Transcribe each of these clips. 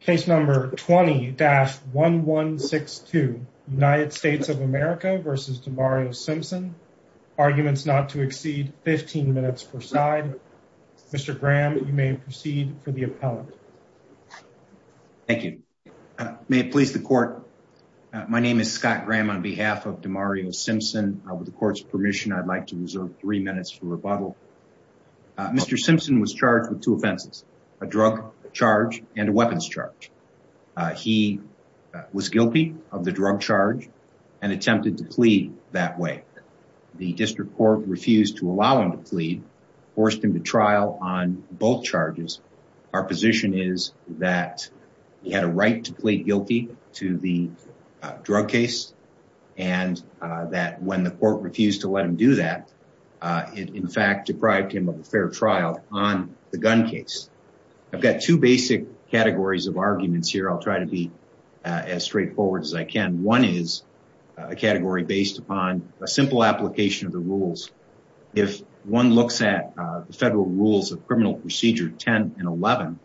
Case number 20-1162, United States of America v. Demario Simpson. Arguments not to exceed 15 minutes per side. Mr. Graham, you may proceed for the appellant. Thank you. May it please the court, my name is Scott Graham on behalf of Demario Simpson. With the court's permission, I'd like to reserve three minutes for rebuttal. Mr. Simpson was charged with two offenses, a drug charge and a weapons charge. He was guilty of the drug charge and attempted to plead that way. The district court refused to allow him to plead, forced him to trial on both charges. Our position is that he had a right to plead guilty to the drug case and that when the I've got two basic categories of arguments here. I'll try to be as straightforward as I can. One is a category based upon a simple application of the rules. If one looks at the federal rules of criminal procedure 10 and 11,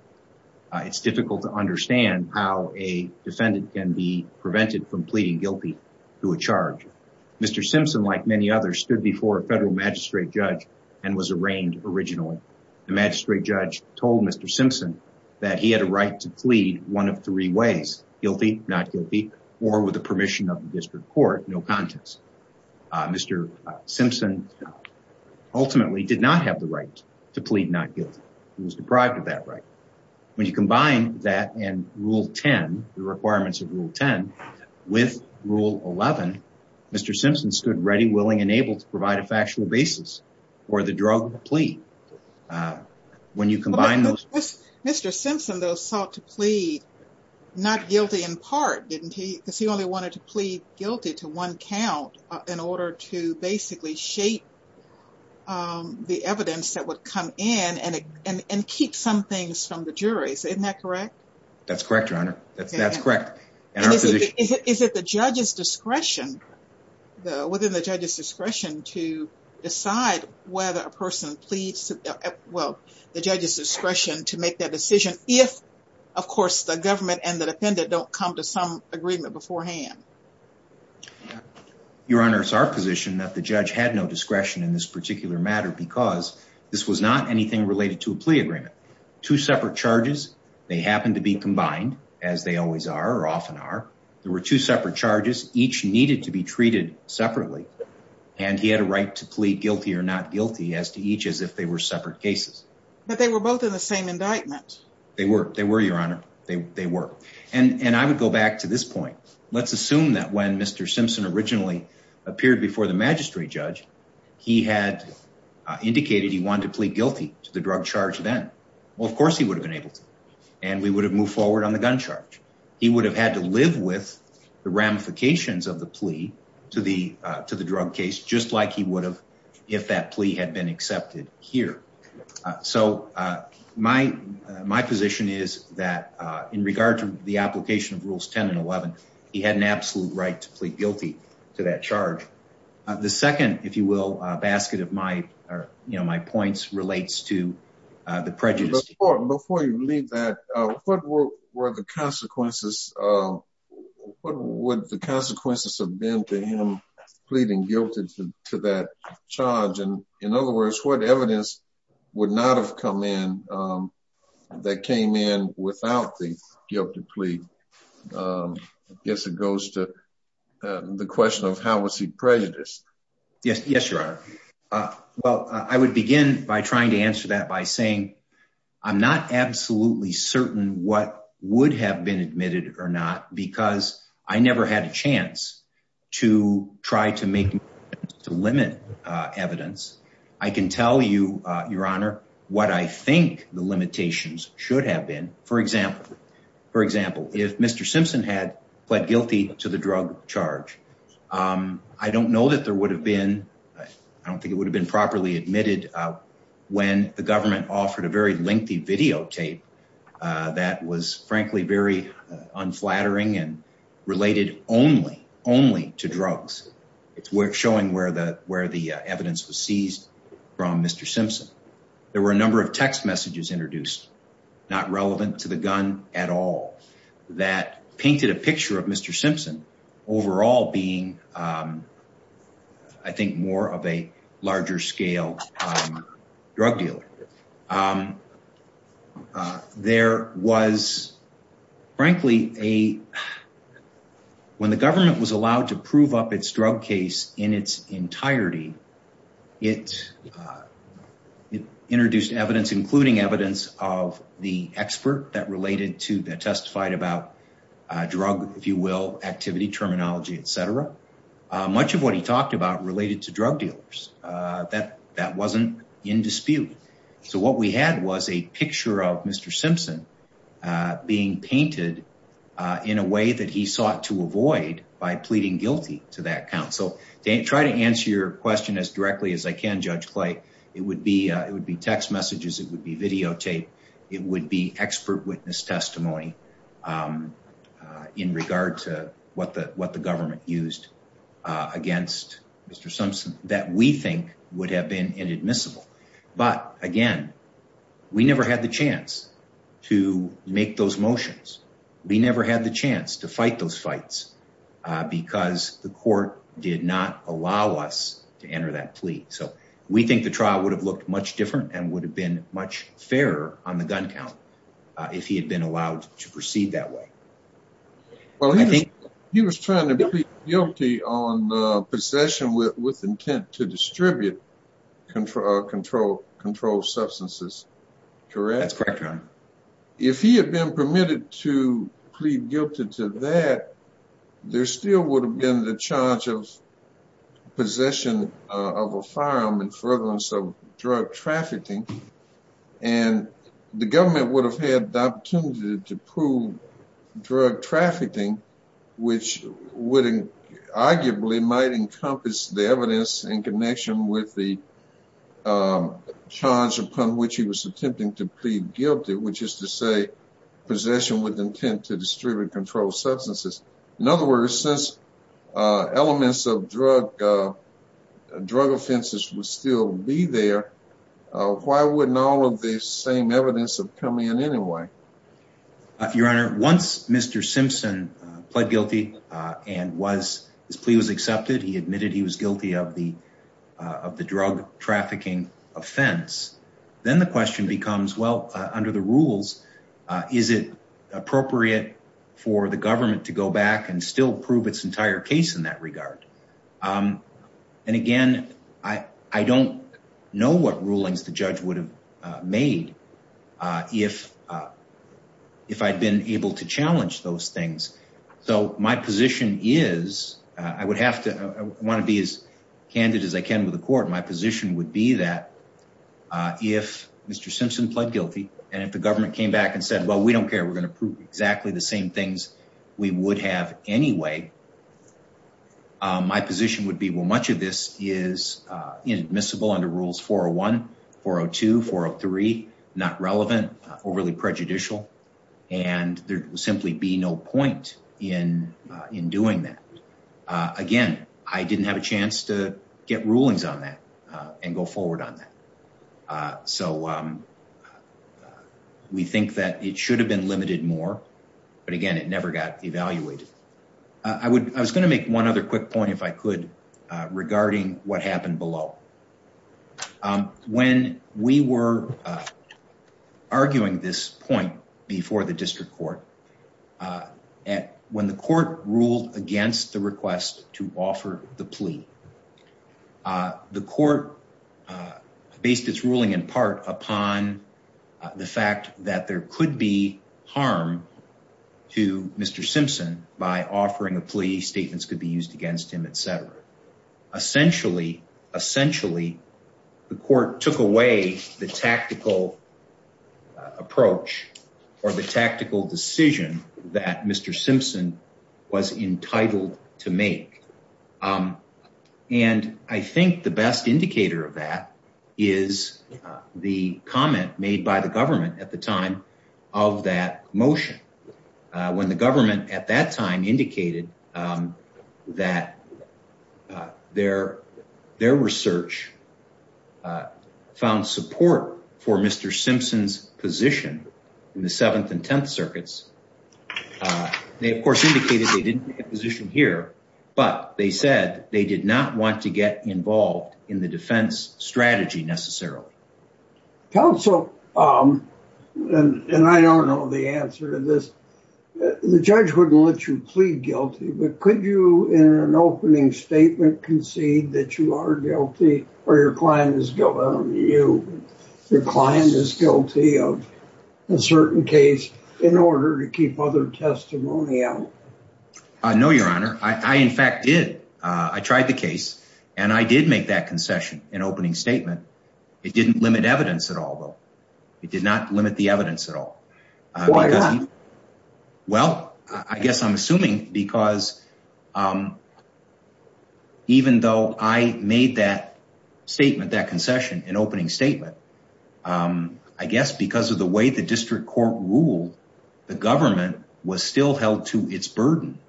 it's difficult to understand how a defendant can be prevented from pleading guilty to a charge. Mr. Simpson, like many others, stood before a federal magistrate judge and was arraigned originally. The magistrate judge told Mr. Simpson that he had a right to plead one of three ways, guilty, not guilty, or with the permission of the district court, no contest. Mr. Simpson ultimately did not have the right to plead not guilty. He was deprived of that right. When you combine that and rule 10, the requirements of rule 10 with rule 11, Mr. Simpson stood ready, willing, and able to provide a factual basis for the drug plea. When you combine those... Mr. Simpson, though, sought to plead not guilty in part, didn't he? Because he only wanted to plead guilty to one count in order to basically shape the evidence that would come in and keep some things from the juries. Isn't that correct? That's correct, Your Honor. That's correct. Is it the judge's discretion, within the judge's discretion, to decide whether a person pleads... Well, the judge's discretion to make that decision if, of course, the government and the defendant don't come to some agreement beforehand? Your Honor, it's our position that the judge had no discretion in this particular matter because this was not anything related to a plea agreement. Two separate charges. They happened to be combined, as they always are or often are. There were two separate charges. Each needed to be treated separately, and he had a right to plead guilty or not guilty as to each as if they were separate cases. But they were both in the same indictment. They were. They were, Your Honor. They were. And I would go back to this point. Let's assume that when Mr. Simpson originally appeared before the magistrate judge, he had indicated he wanted to plead guilty to the drug charge then. Well, of course, he would have been able to. And we would have moved forward on the gun charge. He would have had to live with the ramifications of the plea to the drug case, just like he would have if that plea had been accepted here. So my position is that in regard to the application of Rules 10 and 11, he had an absolute right to plead guilty to that charge. The second, if you will, basket of my points relates to the prejudice. Before you leave that, what were the consequences? What would the consequences have been to him pleading guilty to that charge? And in other words, what evidence would not have come in that came in without the guilty plea? I guess it goes to the question of how was he prejudiced? Yes, Your Honor. Well, I would begin by trying to answer that by saying I'm not absolutely certain what would have been admitted or not because I never had a chance to try to make to limit evidence. I can tell you, Your Honor, what I think the limitations should have been. For example, if Mr. Simpson had pled guilty to the drug charge, I don't know that there would have been, I don't think it would have been properly admitted when the government offered a very lengthy videotape that was frankly very unflattering and related only to drugs. It's worth showing where the evidence was seized from Mr. Simpson. There were a number of text messages introduced, not relevant to the gun at all, that painted a picture of Mr. Simpson overall being, I think, more of a larger scale drug dealer. There was, frankly, a, when the government was allowed to prove up its drug case in its entirety, it introduced evidence, including evidence of the expert that related to, that testified about drug, if you will, activity, terminology, et cetera. Much of what he talked about related to drug dealers that wasn't in dispute. So what we had was a picture of Mr. Simpson being painted in a way that he sought to avoid by pleading guilty to that count. So try to answer your question as directly as I can, Judge Clay. It would be text messages, it would be videotape, it would be expert witness testimony in regard to what the government used against Mr. Simpson that we think would have been inadmissible. But again, we never had the chance to make those motions. We never had the chance to fight those fights because the court did not allow us to enter that plea. So we think the trial would have looked much different and would have been much fairer on the gun count if he had been allowed to proceed that way. Well, he was trying to plead guilty on possession with intent to distribute controlled substances, correct? That's correct, Your Honor. If he had been permitted to plead guilty to that, there still would have been the charge of possession of a firearm and furtherance of drug trafficking, and the government would have had the opportunity to prove drug trafficking, which arguably might encompass the evidence in connection with the charge upon which he was attempting to plead guilty, which is to say possession with intent to distribute controlled substances. In other words, since elements of drug offenses would still be there, why wouldn't all of the same evidence have come in anyway? Your Honor, once Mr. Simpson pled guilty and his plea was accepted, he admitted he was guilty of the drug trafficking offense, then the question becomes, well, under the rules, is it appropriate for the government to go back and still prove its entire case in that regard? And again, I don't know what rulings the judge would have made if I'd been able to challenge those things. So my position is, I want to be as candid as I can with the court, my position would be that if Mr. Simpson pled guilty and if the government came back and said, well, we don't my position would be, well, much of this is inadmissible under rules 401, 402, 403, not relevant, overly prejudicial, and there would simply be no point in doing that. Again, I didn't have a chance to get rulings on that and go forward on that. So we think that it should have been limited more, but again, it never got evaluated. I was going to make one other quick point, if I could, regarding what happened below. When we were arguing this point before the district court, when the court ruled against the request to offer the plea, the court based its ruling in part upon the fact that there could be harm to Mr. Simpson by offering a plea, statements could be used against him, et cetera. Essentially, essentially the court took away the tactical approach or the tactical decision that Mr. Simpson was entitled to make. And I think the best indicator of that is the comment made by the government at the time of that motion. When the government at that time indicated that their research found support for Mr. Simpson's position in the 7th and 10th circuits, they of course indicated they didn't have a position here, but they said they did not want to get involved in the defense strategy necessarily. Counsel, and I don't know the answer to this, the judge wouldn't let you plead guilty, but could you in an opening statement concede that you are guilty or your client is guilty of a certain case in order to keep other cases? No, your honor. I in fact did. I tried the case and I did make that concession in opening statement. It didn't limit evidence at all though. It did not limit the evidence at all. Why not? Well, I guess I'm assuming because even though I made that statement, that concession in opening statement, I guess because of the way the district court ruled, the government was still held to its burden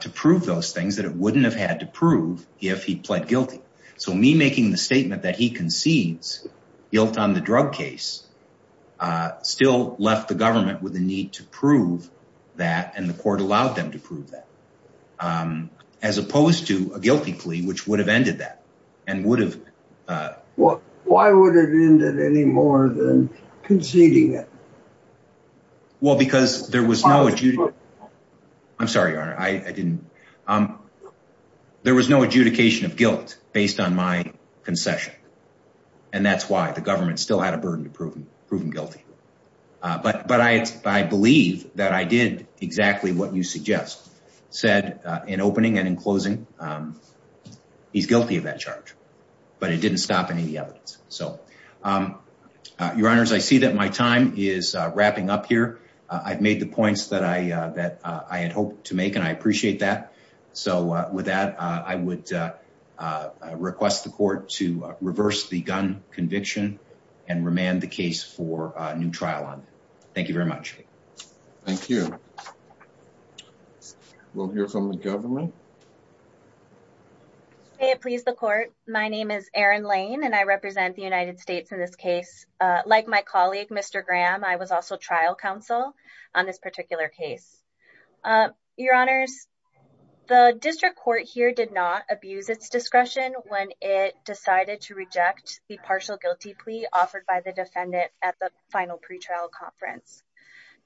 to prove those things that it wouldn't have had to prove if he pled guilty. So me making the statement that he concedes guilt on the drug case still left the government with the need to prove that and the court allowed them to prove that as opposed to a guilty plea, which would have ended that. Why would it end it any more than conceding it? Well, because there was no adjudication of guilt based on my concession and that's why the government still had a burden to prove him guilty. But I believe that I did exactly what you suggest said in opening and in closing. He's guilty of that charge, but it didn't stop any of the evidence. So your honors, I see that my time is wrapping up here. I've made the points that I had hoped to make and I appreciate that. So with that, I would request the court to reverse the gun conviction and remand the case for a new trial on. Thank you very much. Thank you. We'll hear from the government. May it please the court. My name is Erin Lane and I represent the United States in this case. Like my colleague, Mr. Graham, I was also trial counsel on this particular case. Your honors, the district court here did not abuse its discretion when it decided to reject the partial guilty plea offered by the defendant at the final pretrial conference,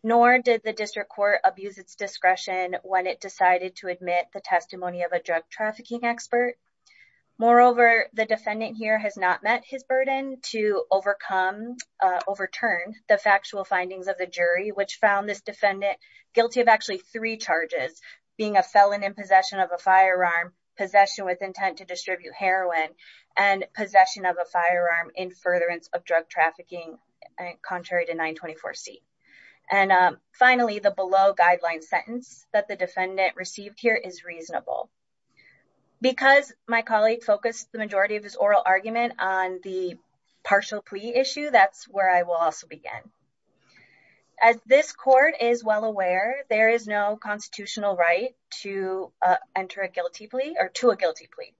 nor did the district court abuse its discretion when it decided to admit the testimony of a drug trafficking expert. Moreover, the defendant here has not met his burden to overturn the factual findings of the jury, which found this defendant guilty of actually three charges, being a felon in possession of a firearm, possession with intent to distribute heroin, and possession of a firearm in furtherance of drug trafficking, contrary to 924C. And finally, the below guideline sentence that the defendant received here is reasonable. Because my colleague focused the majority of his oral argument on the partial plea issue, that's where I will also begin. As this court is well aware, there is no constitutional right to enter a guilty plea or to a guilty plea.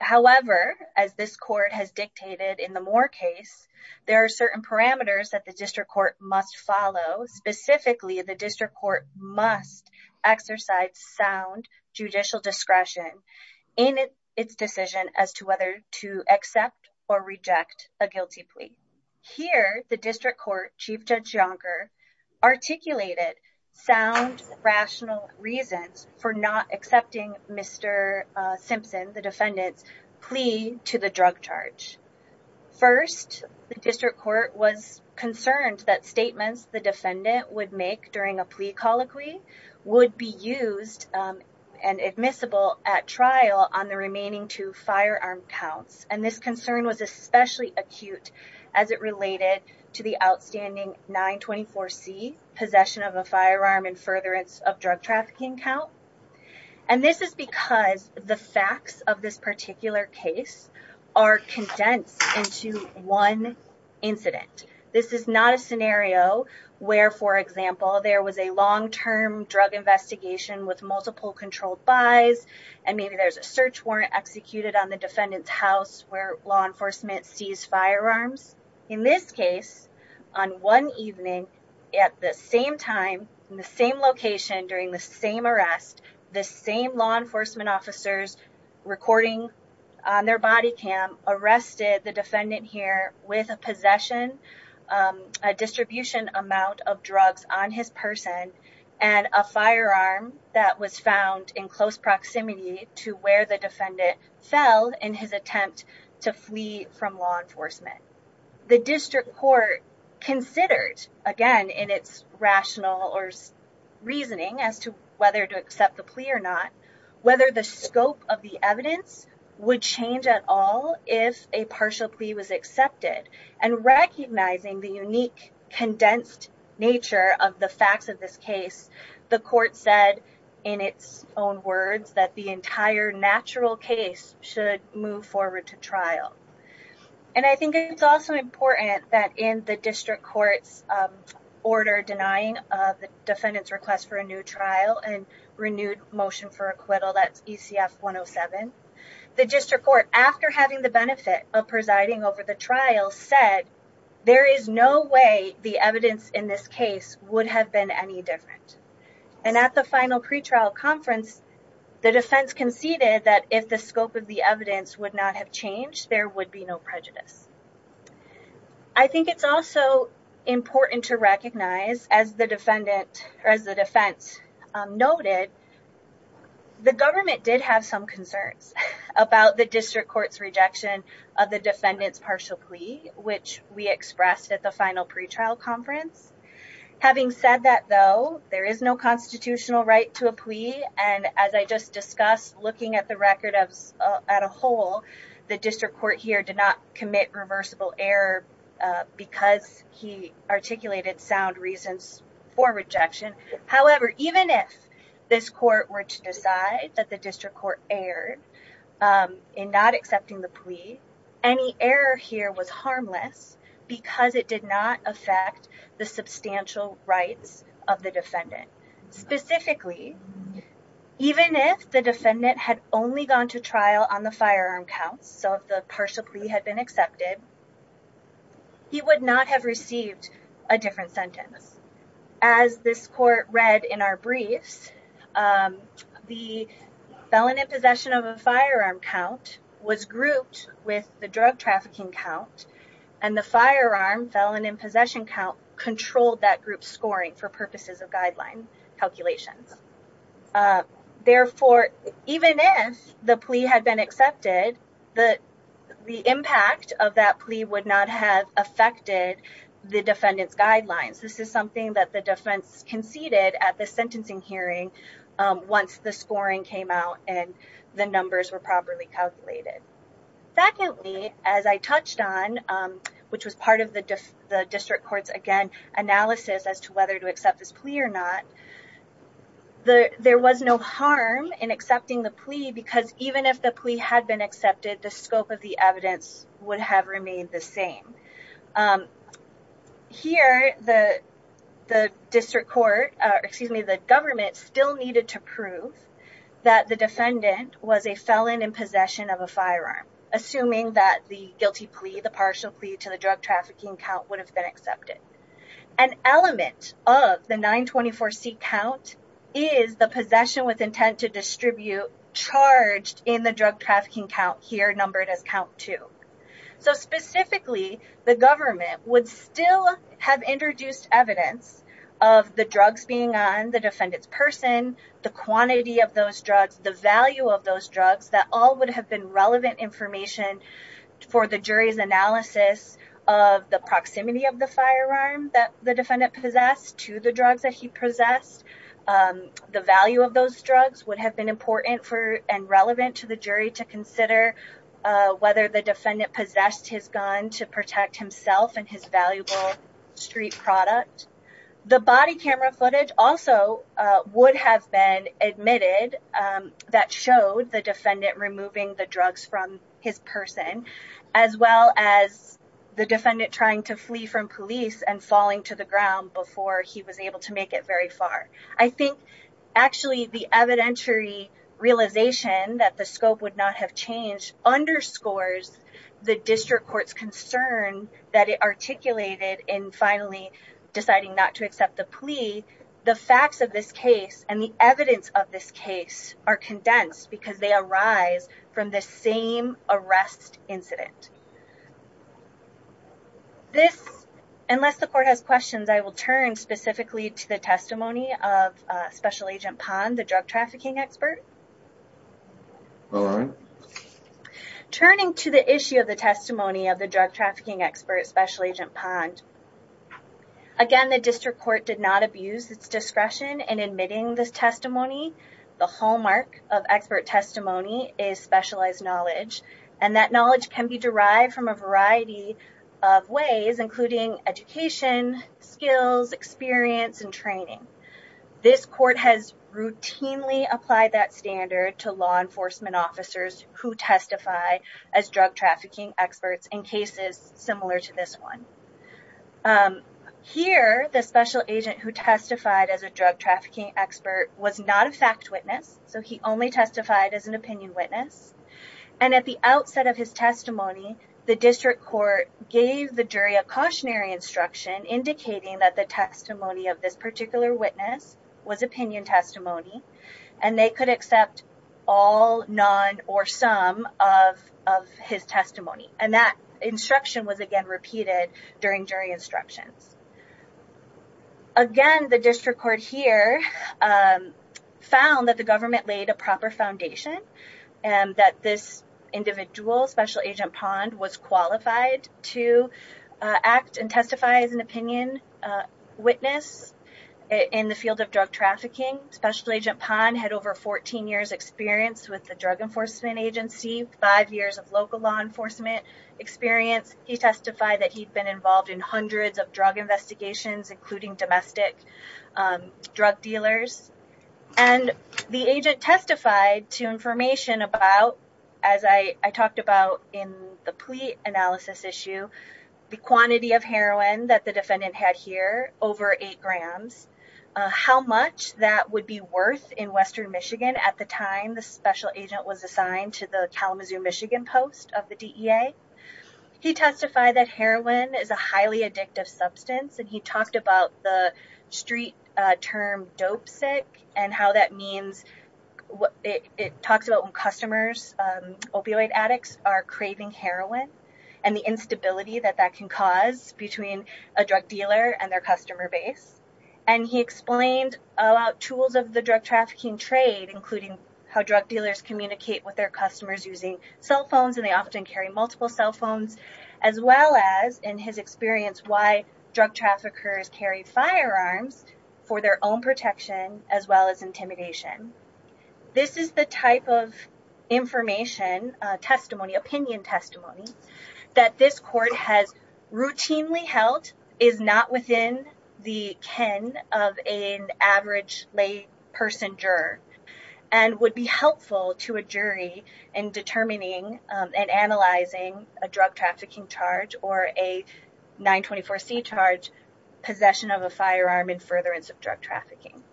However, as this court has dictated in the Moore case, there are certain parameters that the district court must follow. Specifically, the district court must exercise sound judicial discretion in its decision as to whether to accept or reject a guilty plea. Here, the district court, Chief Judge Yonker, articulated sound rational reasons for not accepting Mr. Simpson, the defendant's plea to the drug charge. First, the district court was concerned that statements the defendant would make during a plea colloquy would be used and admissible at trial on the remaining firearm counts. And this concern was especially acute as it related to the outstanding 924C, possession of a firearm in furtherance of drug trafficking count. And this is because the facts of this particular case are condensed into one incident. This is not a scenario where, for example, there was a long-term drug investigation with multiple controlled buys, and maybe there's search warrant executed on the defendant's house where law enforcement sees firearms. In this case, on one evening, at the same time, in the same location, during the same arrest, the same law enforcement officers recording on their body cam arrested the defendant here with a possession, a distribution amount of drugs on his person, and a firearm that was found in close proximity to where the defendant fell in his attempt to flee from law enforcement. The district court considered, again, in its rational or reasoning as to whether to accept the plea or not, whether the scope of the evidence would change at all if a partial plea was accepted. And recognizing the natural case should move forward to trial. And I think it's also important that in the district court's order denying the defendant's request for a new trial and renewed motion for acquittal, that's ECF 107, the district court, after having the benefit of presiding over the trial, said there is no way the evidence in this case would have been any different. And at the final pretrial conference, the defense conceded that if the scope of the evidence would not have changed, there would be no prejudice. I think it's also important to recognize, as the defense noted, the government did have some concerns about the district court's rejection of the defendant's partial plea, which we expressed at the final pretrial conference. Having said that, though, there is no constitutional right to a plea. And as I just discussed, looking at the record at a whole, the district court here did not commit reversible error because he articulated sound reasons for rejection. However, even if this court were to decide that the district court erred in not accepting the plea, any error here was harmless because it did not affect the substantial rights of the defendant. Specifically, even if the defendant had only gone to trial on the firearm counts, so if the partial plea had been accepted, he would not have received a different sentence. As this court read in our briefs, the felon in possession of a firearm count was grouped with the drug trafficking count, and the firearm felon in possession count controlled that group's scoring for purposes of guideline calculations. Therefore, even if the plea had been accepted, the impact of that plea would not have affected the defendant's guidelines. This is something that the defense conceded at the sentencing hearing once the scoring came out and the numbers were properly calculated. Secondly, as I touched on, which was the district court's analysis as to whether to accept this plea or not, there was no harm in accepting the plea because even if the plea had been accepted, the scope of the evidence would have remained the same. Here, the government still needed to prove that the defendant was a felon in possession of a firearm, assuming that the guilty plea, the partial plea to the drug trafficking count, would have been accepted. An element of the 924C count is the possession with intent to distribute charged in the drug trafficking count, here numbered as count 2. So specifically, the government would still have introduced evidence of the drugs being on the defendant's person, the quantity of those drugs, the value of those drugs, that all would have been relevant information for the jury's analysis of the proximity of the firearm that the defendant possessed to the drugs that he possessed. The value of those drugs would have been important for and relevant to the jury to consider whether the defendant possessed his gun to protect himself and his valuable street product. The body camera footage also would have been admitted that showed the defendant removing the drugs from his person, as well as the defendant trying to flee from police and falling to the ground before he was able to make it very far. I think actually the evidentiary realization that the scope would not have changed underscores the district court's concern that it articulated in finally deciding not to accept the plea. The facts of this case and the evidence of this case are condensed because they arise from the same arrest incident. Unless the court has questions, I will turn specifically to the testimony of Special Agent Pond, the drug trafficking expert. Turning to the issue of the discretion in admitting this testimony, the hallmark of expert testimony is specialized knowledge. That knowledge can be derived from a variety of ways, including education, skills, experience, and training. This court has routinely applied that standard to law enforcement officers who testify as drug trafficking experts in cases similar to this one. Here, the Special Agent who testified as a drug trafficking expert was not a fact witness, so he only testified as an opinion witness. At the outset of his testimony, the district court gave the jury a cautionary instruction indicating that the testimony of this particular witness was opinion testimony and they could accept all, none, or some of his testimony. That during jury instructions. Again, the district court here found that the government laid a proper foundation and that this individual, Special Agent Pond, was qualified to act and testify as an opinion witness in the field of drug trafficking. Special Agent Pond had over 14 years experience with the Drug Enforcement Agency, five years of local law enforcement experience. He testified that he'd been involved in hundreds of drug investigations, including domestic drug dealers, and the agent testified to information about, as I talked about in the plea analysis issue, the quantity of heroin that the defendant had here, over eight grams, how much that would be worth in western Michigan at the time the Special Agent was assigned to the He testified that heroin is a highly addictive substance and he talked about the street term dope sick and how that means, it talks about when customers, opioid addicts, are craving heroin and the instability that that can cause between a drug dealer and their customer base. And he explained about tools of the drug trafficking trade, including how drug dealers communicate with their customers using cell phones, and they often carry multiple cell phones, as well as, in his experience, why drug traffickers carry firearms for their own protection as well as intimidation. This is the type of information testimony, opinion testimony, that this court has routinely held is not within the ken of an average lay person juror and would be helpful to a in determining and analyzing a drug trafficking charge or a 924c charge, possession of a firearm, and furtherance of drug trafficking.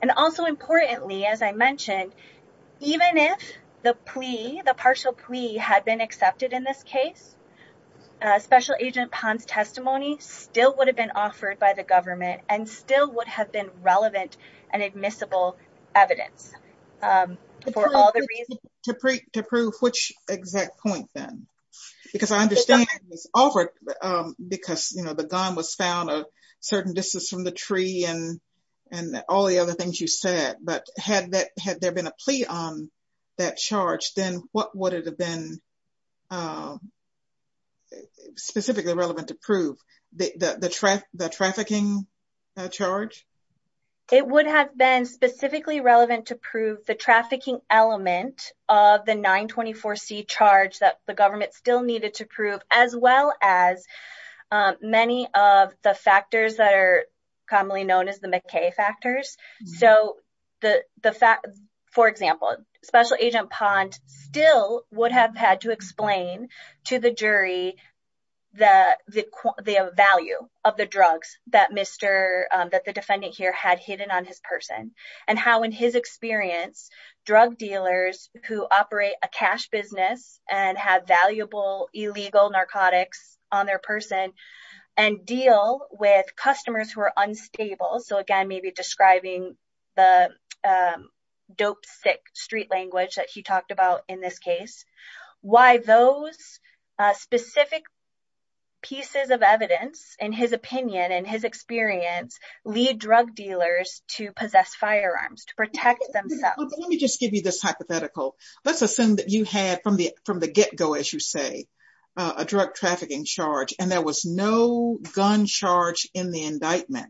And also importantly, as I mentioned, even if the plea, the partial plea, had been accepted in this case, Special Agent Pond's testimony still would have been offered by the government and still would have been relevant and admissible evidence. To prove which exact point then? Because I understand it was offered because, you know, the gun was found a certain distance from the tree and all the other things you said, but had there been a plea on that charge, then what would it have been specifically relevant to prove? The trafficking charge? It would have been specifically relevant to prove the trafficking element of the 924c charge that the government still needed to prove, as well as many of the factors that are commonly known as the McKay factors. So, for example, Special Agent Pond still would have had to explain to the jury the value of the drugs that the defendant here had hidden on his person and how, in his experience, drug dealers who operate a cash business and have valuable illegal narcotics on their person and deal with he talked about in this case, why those specific pieces of evidence in his opinion and his experience lead drug dealers to possess firearms to protect themselves. Let me just give you this hypothetical. Let's assume that you had from the get-go, as you say, a drug trafficking charge, and there was no gun charge in the indictment.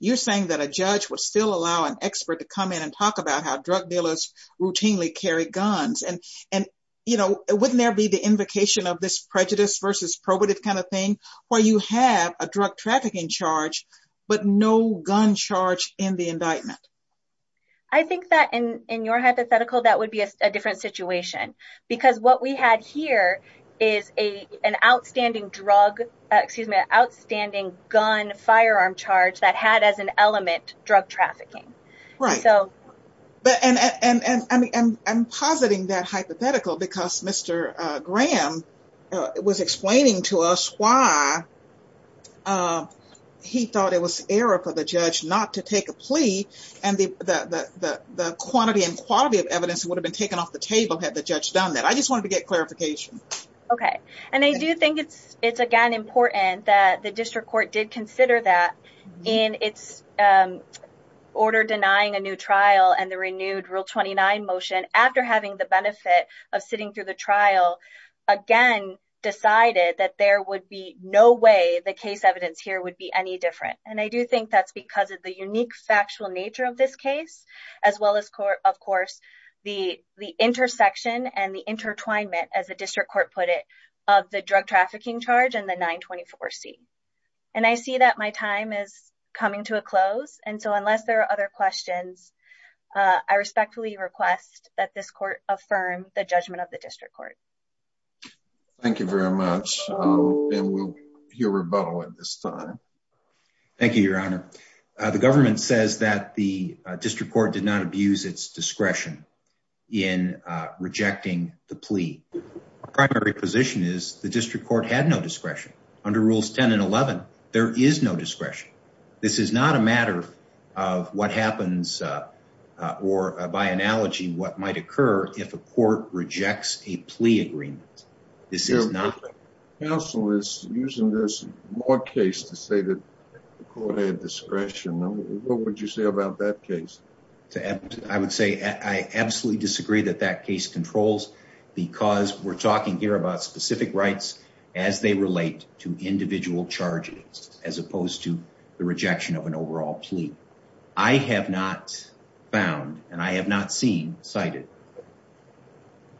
You're saying that a judge would still allow an expert to come in and talk about how drug dealers routinely carry guns. Wouldn't there be the invocation of this prejudice versus probative kind of thing where you have a drug trafficking charge but no gun charge in the indictment? I think that in your hypothetical, that would be a different situation because what we had here is an outstanding gun firearm charge that had as an element drug trafficking. Right, and I'm positing that hypothetical because Mr. Graham was explaining to us why he thought it was error for the judge not to take a plea and the quantity and quality of evidence would have been taken off the table had the judge done that. I just wanted to get clarification. Okay, and I do think it's again important that the district court, in its order denying a new trial and the renewed Rule 29 motion, after having the benefit of sitting through the trial, again decided that there would be no way the case evidence here would be any different. I do think that's because of the unique factual nature of this case as well as, of course, the intersection and the intertwinement, as the district court put it, of the drug trafficking charge and the 924c. And I see that my time is coming to a close and so unless there are other questions, I respectfully request that this court affirm the judgment of the district court. Thank you very much and we'll hear rebuttal at this time. Thank you, Your Honor. The government says that the district court did not abuse its discretion in rejecting the plea. Our primary position is the district court had no discretion. Under Rules 10 and 11, there is no discretion. This is not a matter of what happens or, by analogy, what might occur if a court rejects a plea agreement. This is not. The council is using this Moore case to say that the court had discretion. What would you say about that case? I would say I absolutely disagree that that case controls because we're talking here about specific rights as they relate to individual charges as opposed to the rejection of an overall plea. I have not found and I have not seen cited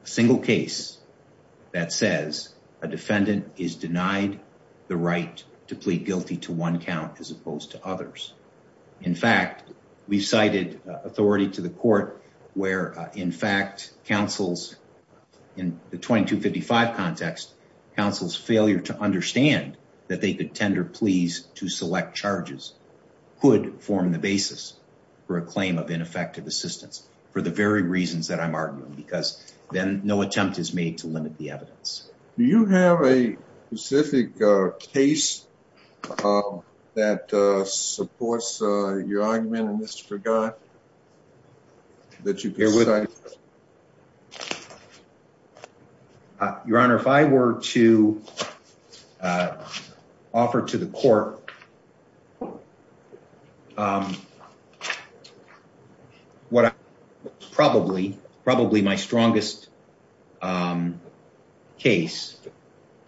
a single case that says a defendant is denied the right to plead guilty to one count as opposed to counsels. In the 2255 context, counsel's failure to understand that they could tender pleas to select charges could form the basis for a claim of ineffective assistance for the very reasons that I'm arguing because then no attempt is made to limit the evidence. Do you have a specific case that supports your argument in this regard? Your Honor, if I were to offer to the court my strongest case,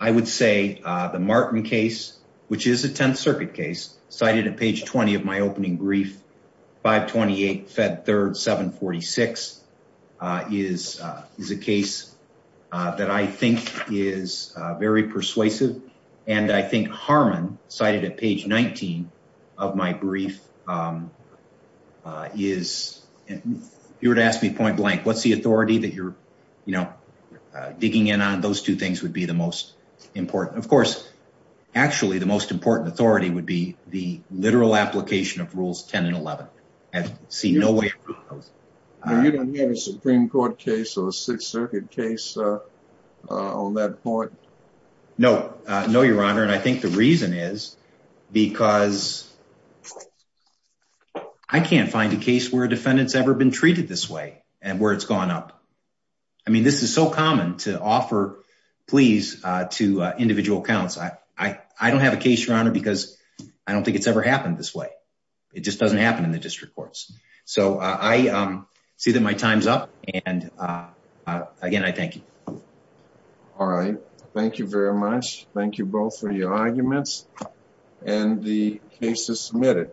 I would say the Martin case, which is a Tenth Circuit case, cited at page 20 of my opening brief, 528 Fed 3rd 746, is a case that I think is very persuasive and I think Harmon cited at page 19 of my brief is, if you were to ask me point blank, what's the authority that you're digging in on, those two things would be the most important. Of course, actually the most important authority would be the literal application of Rules 10 and 11. You don't have a Supreme Court case or a Sixth Circuit case on that point? No, no, Your Honor, and I think the reason is because I can't find a case where a defendant's ever been treated this way and where it's gone up. I mean, this is so common to offer pleas to individual accounts. I don't have a case, Your Honor, because I don't think it's ever happened this way. It just doesn't happen in the district courts. So I see that my time's up and again, I thank you. All right. Thank you very much. Thank you both for your arguments and the case is submitted.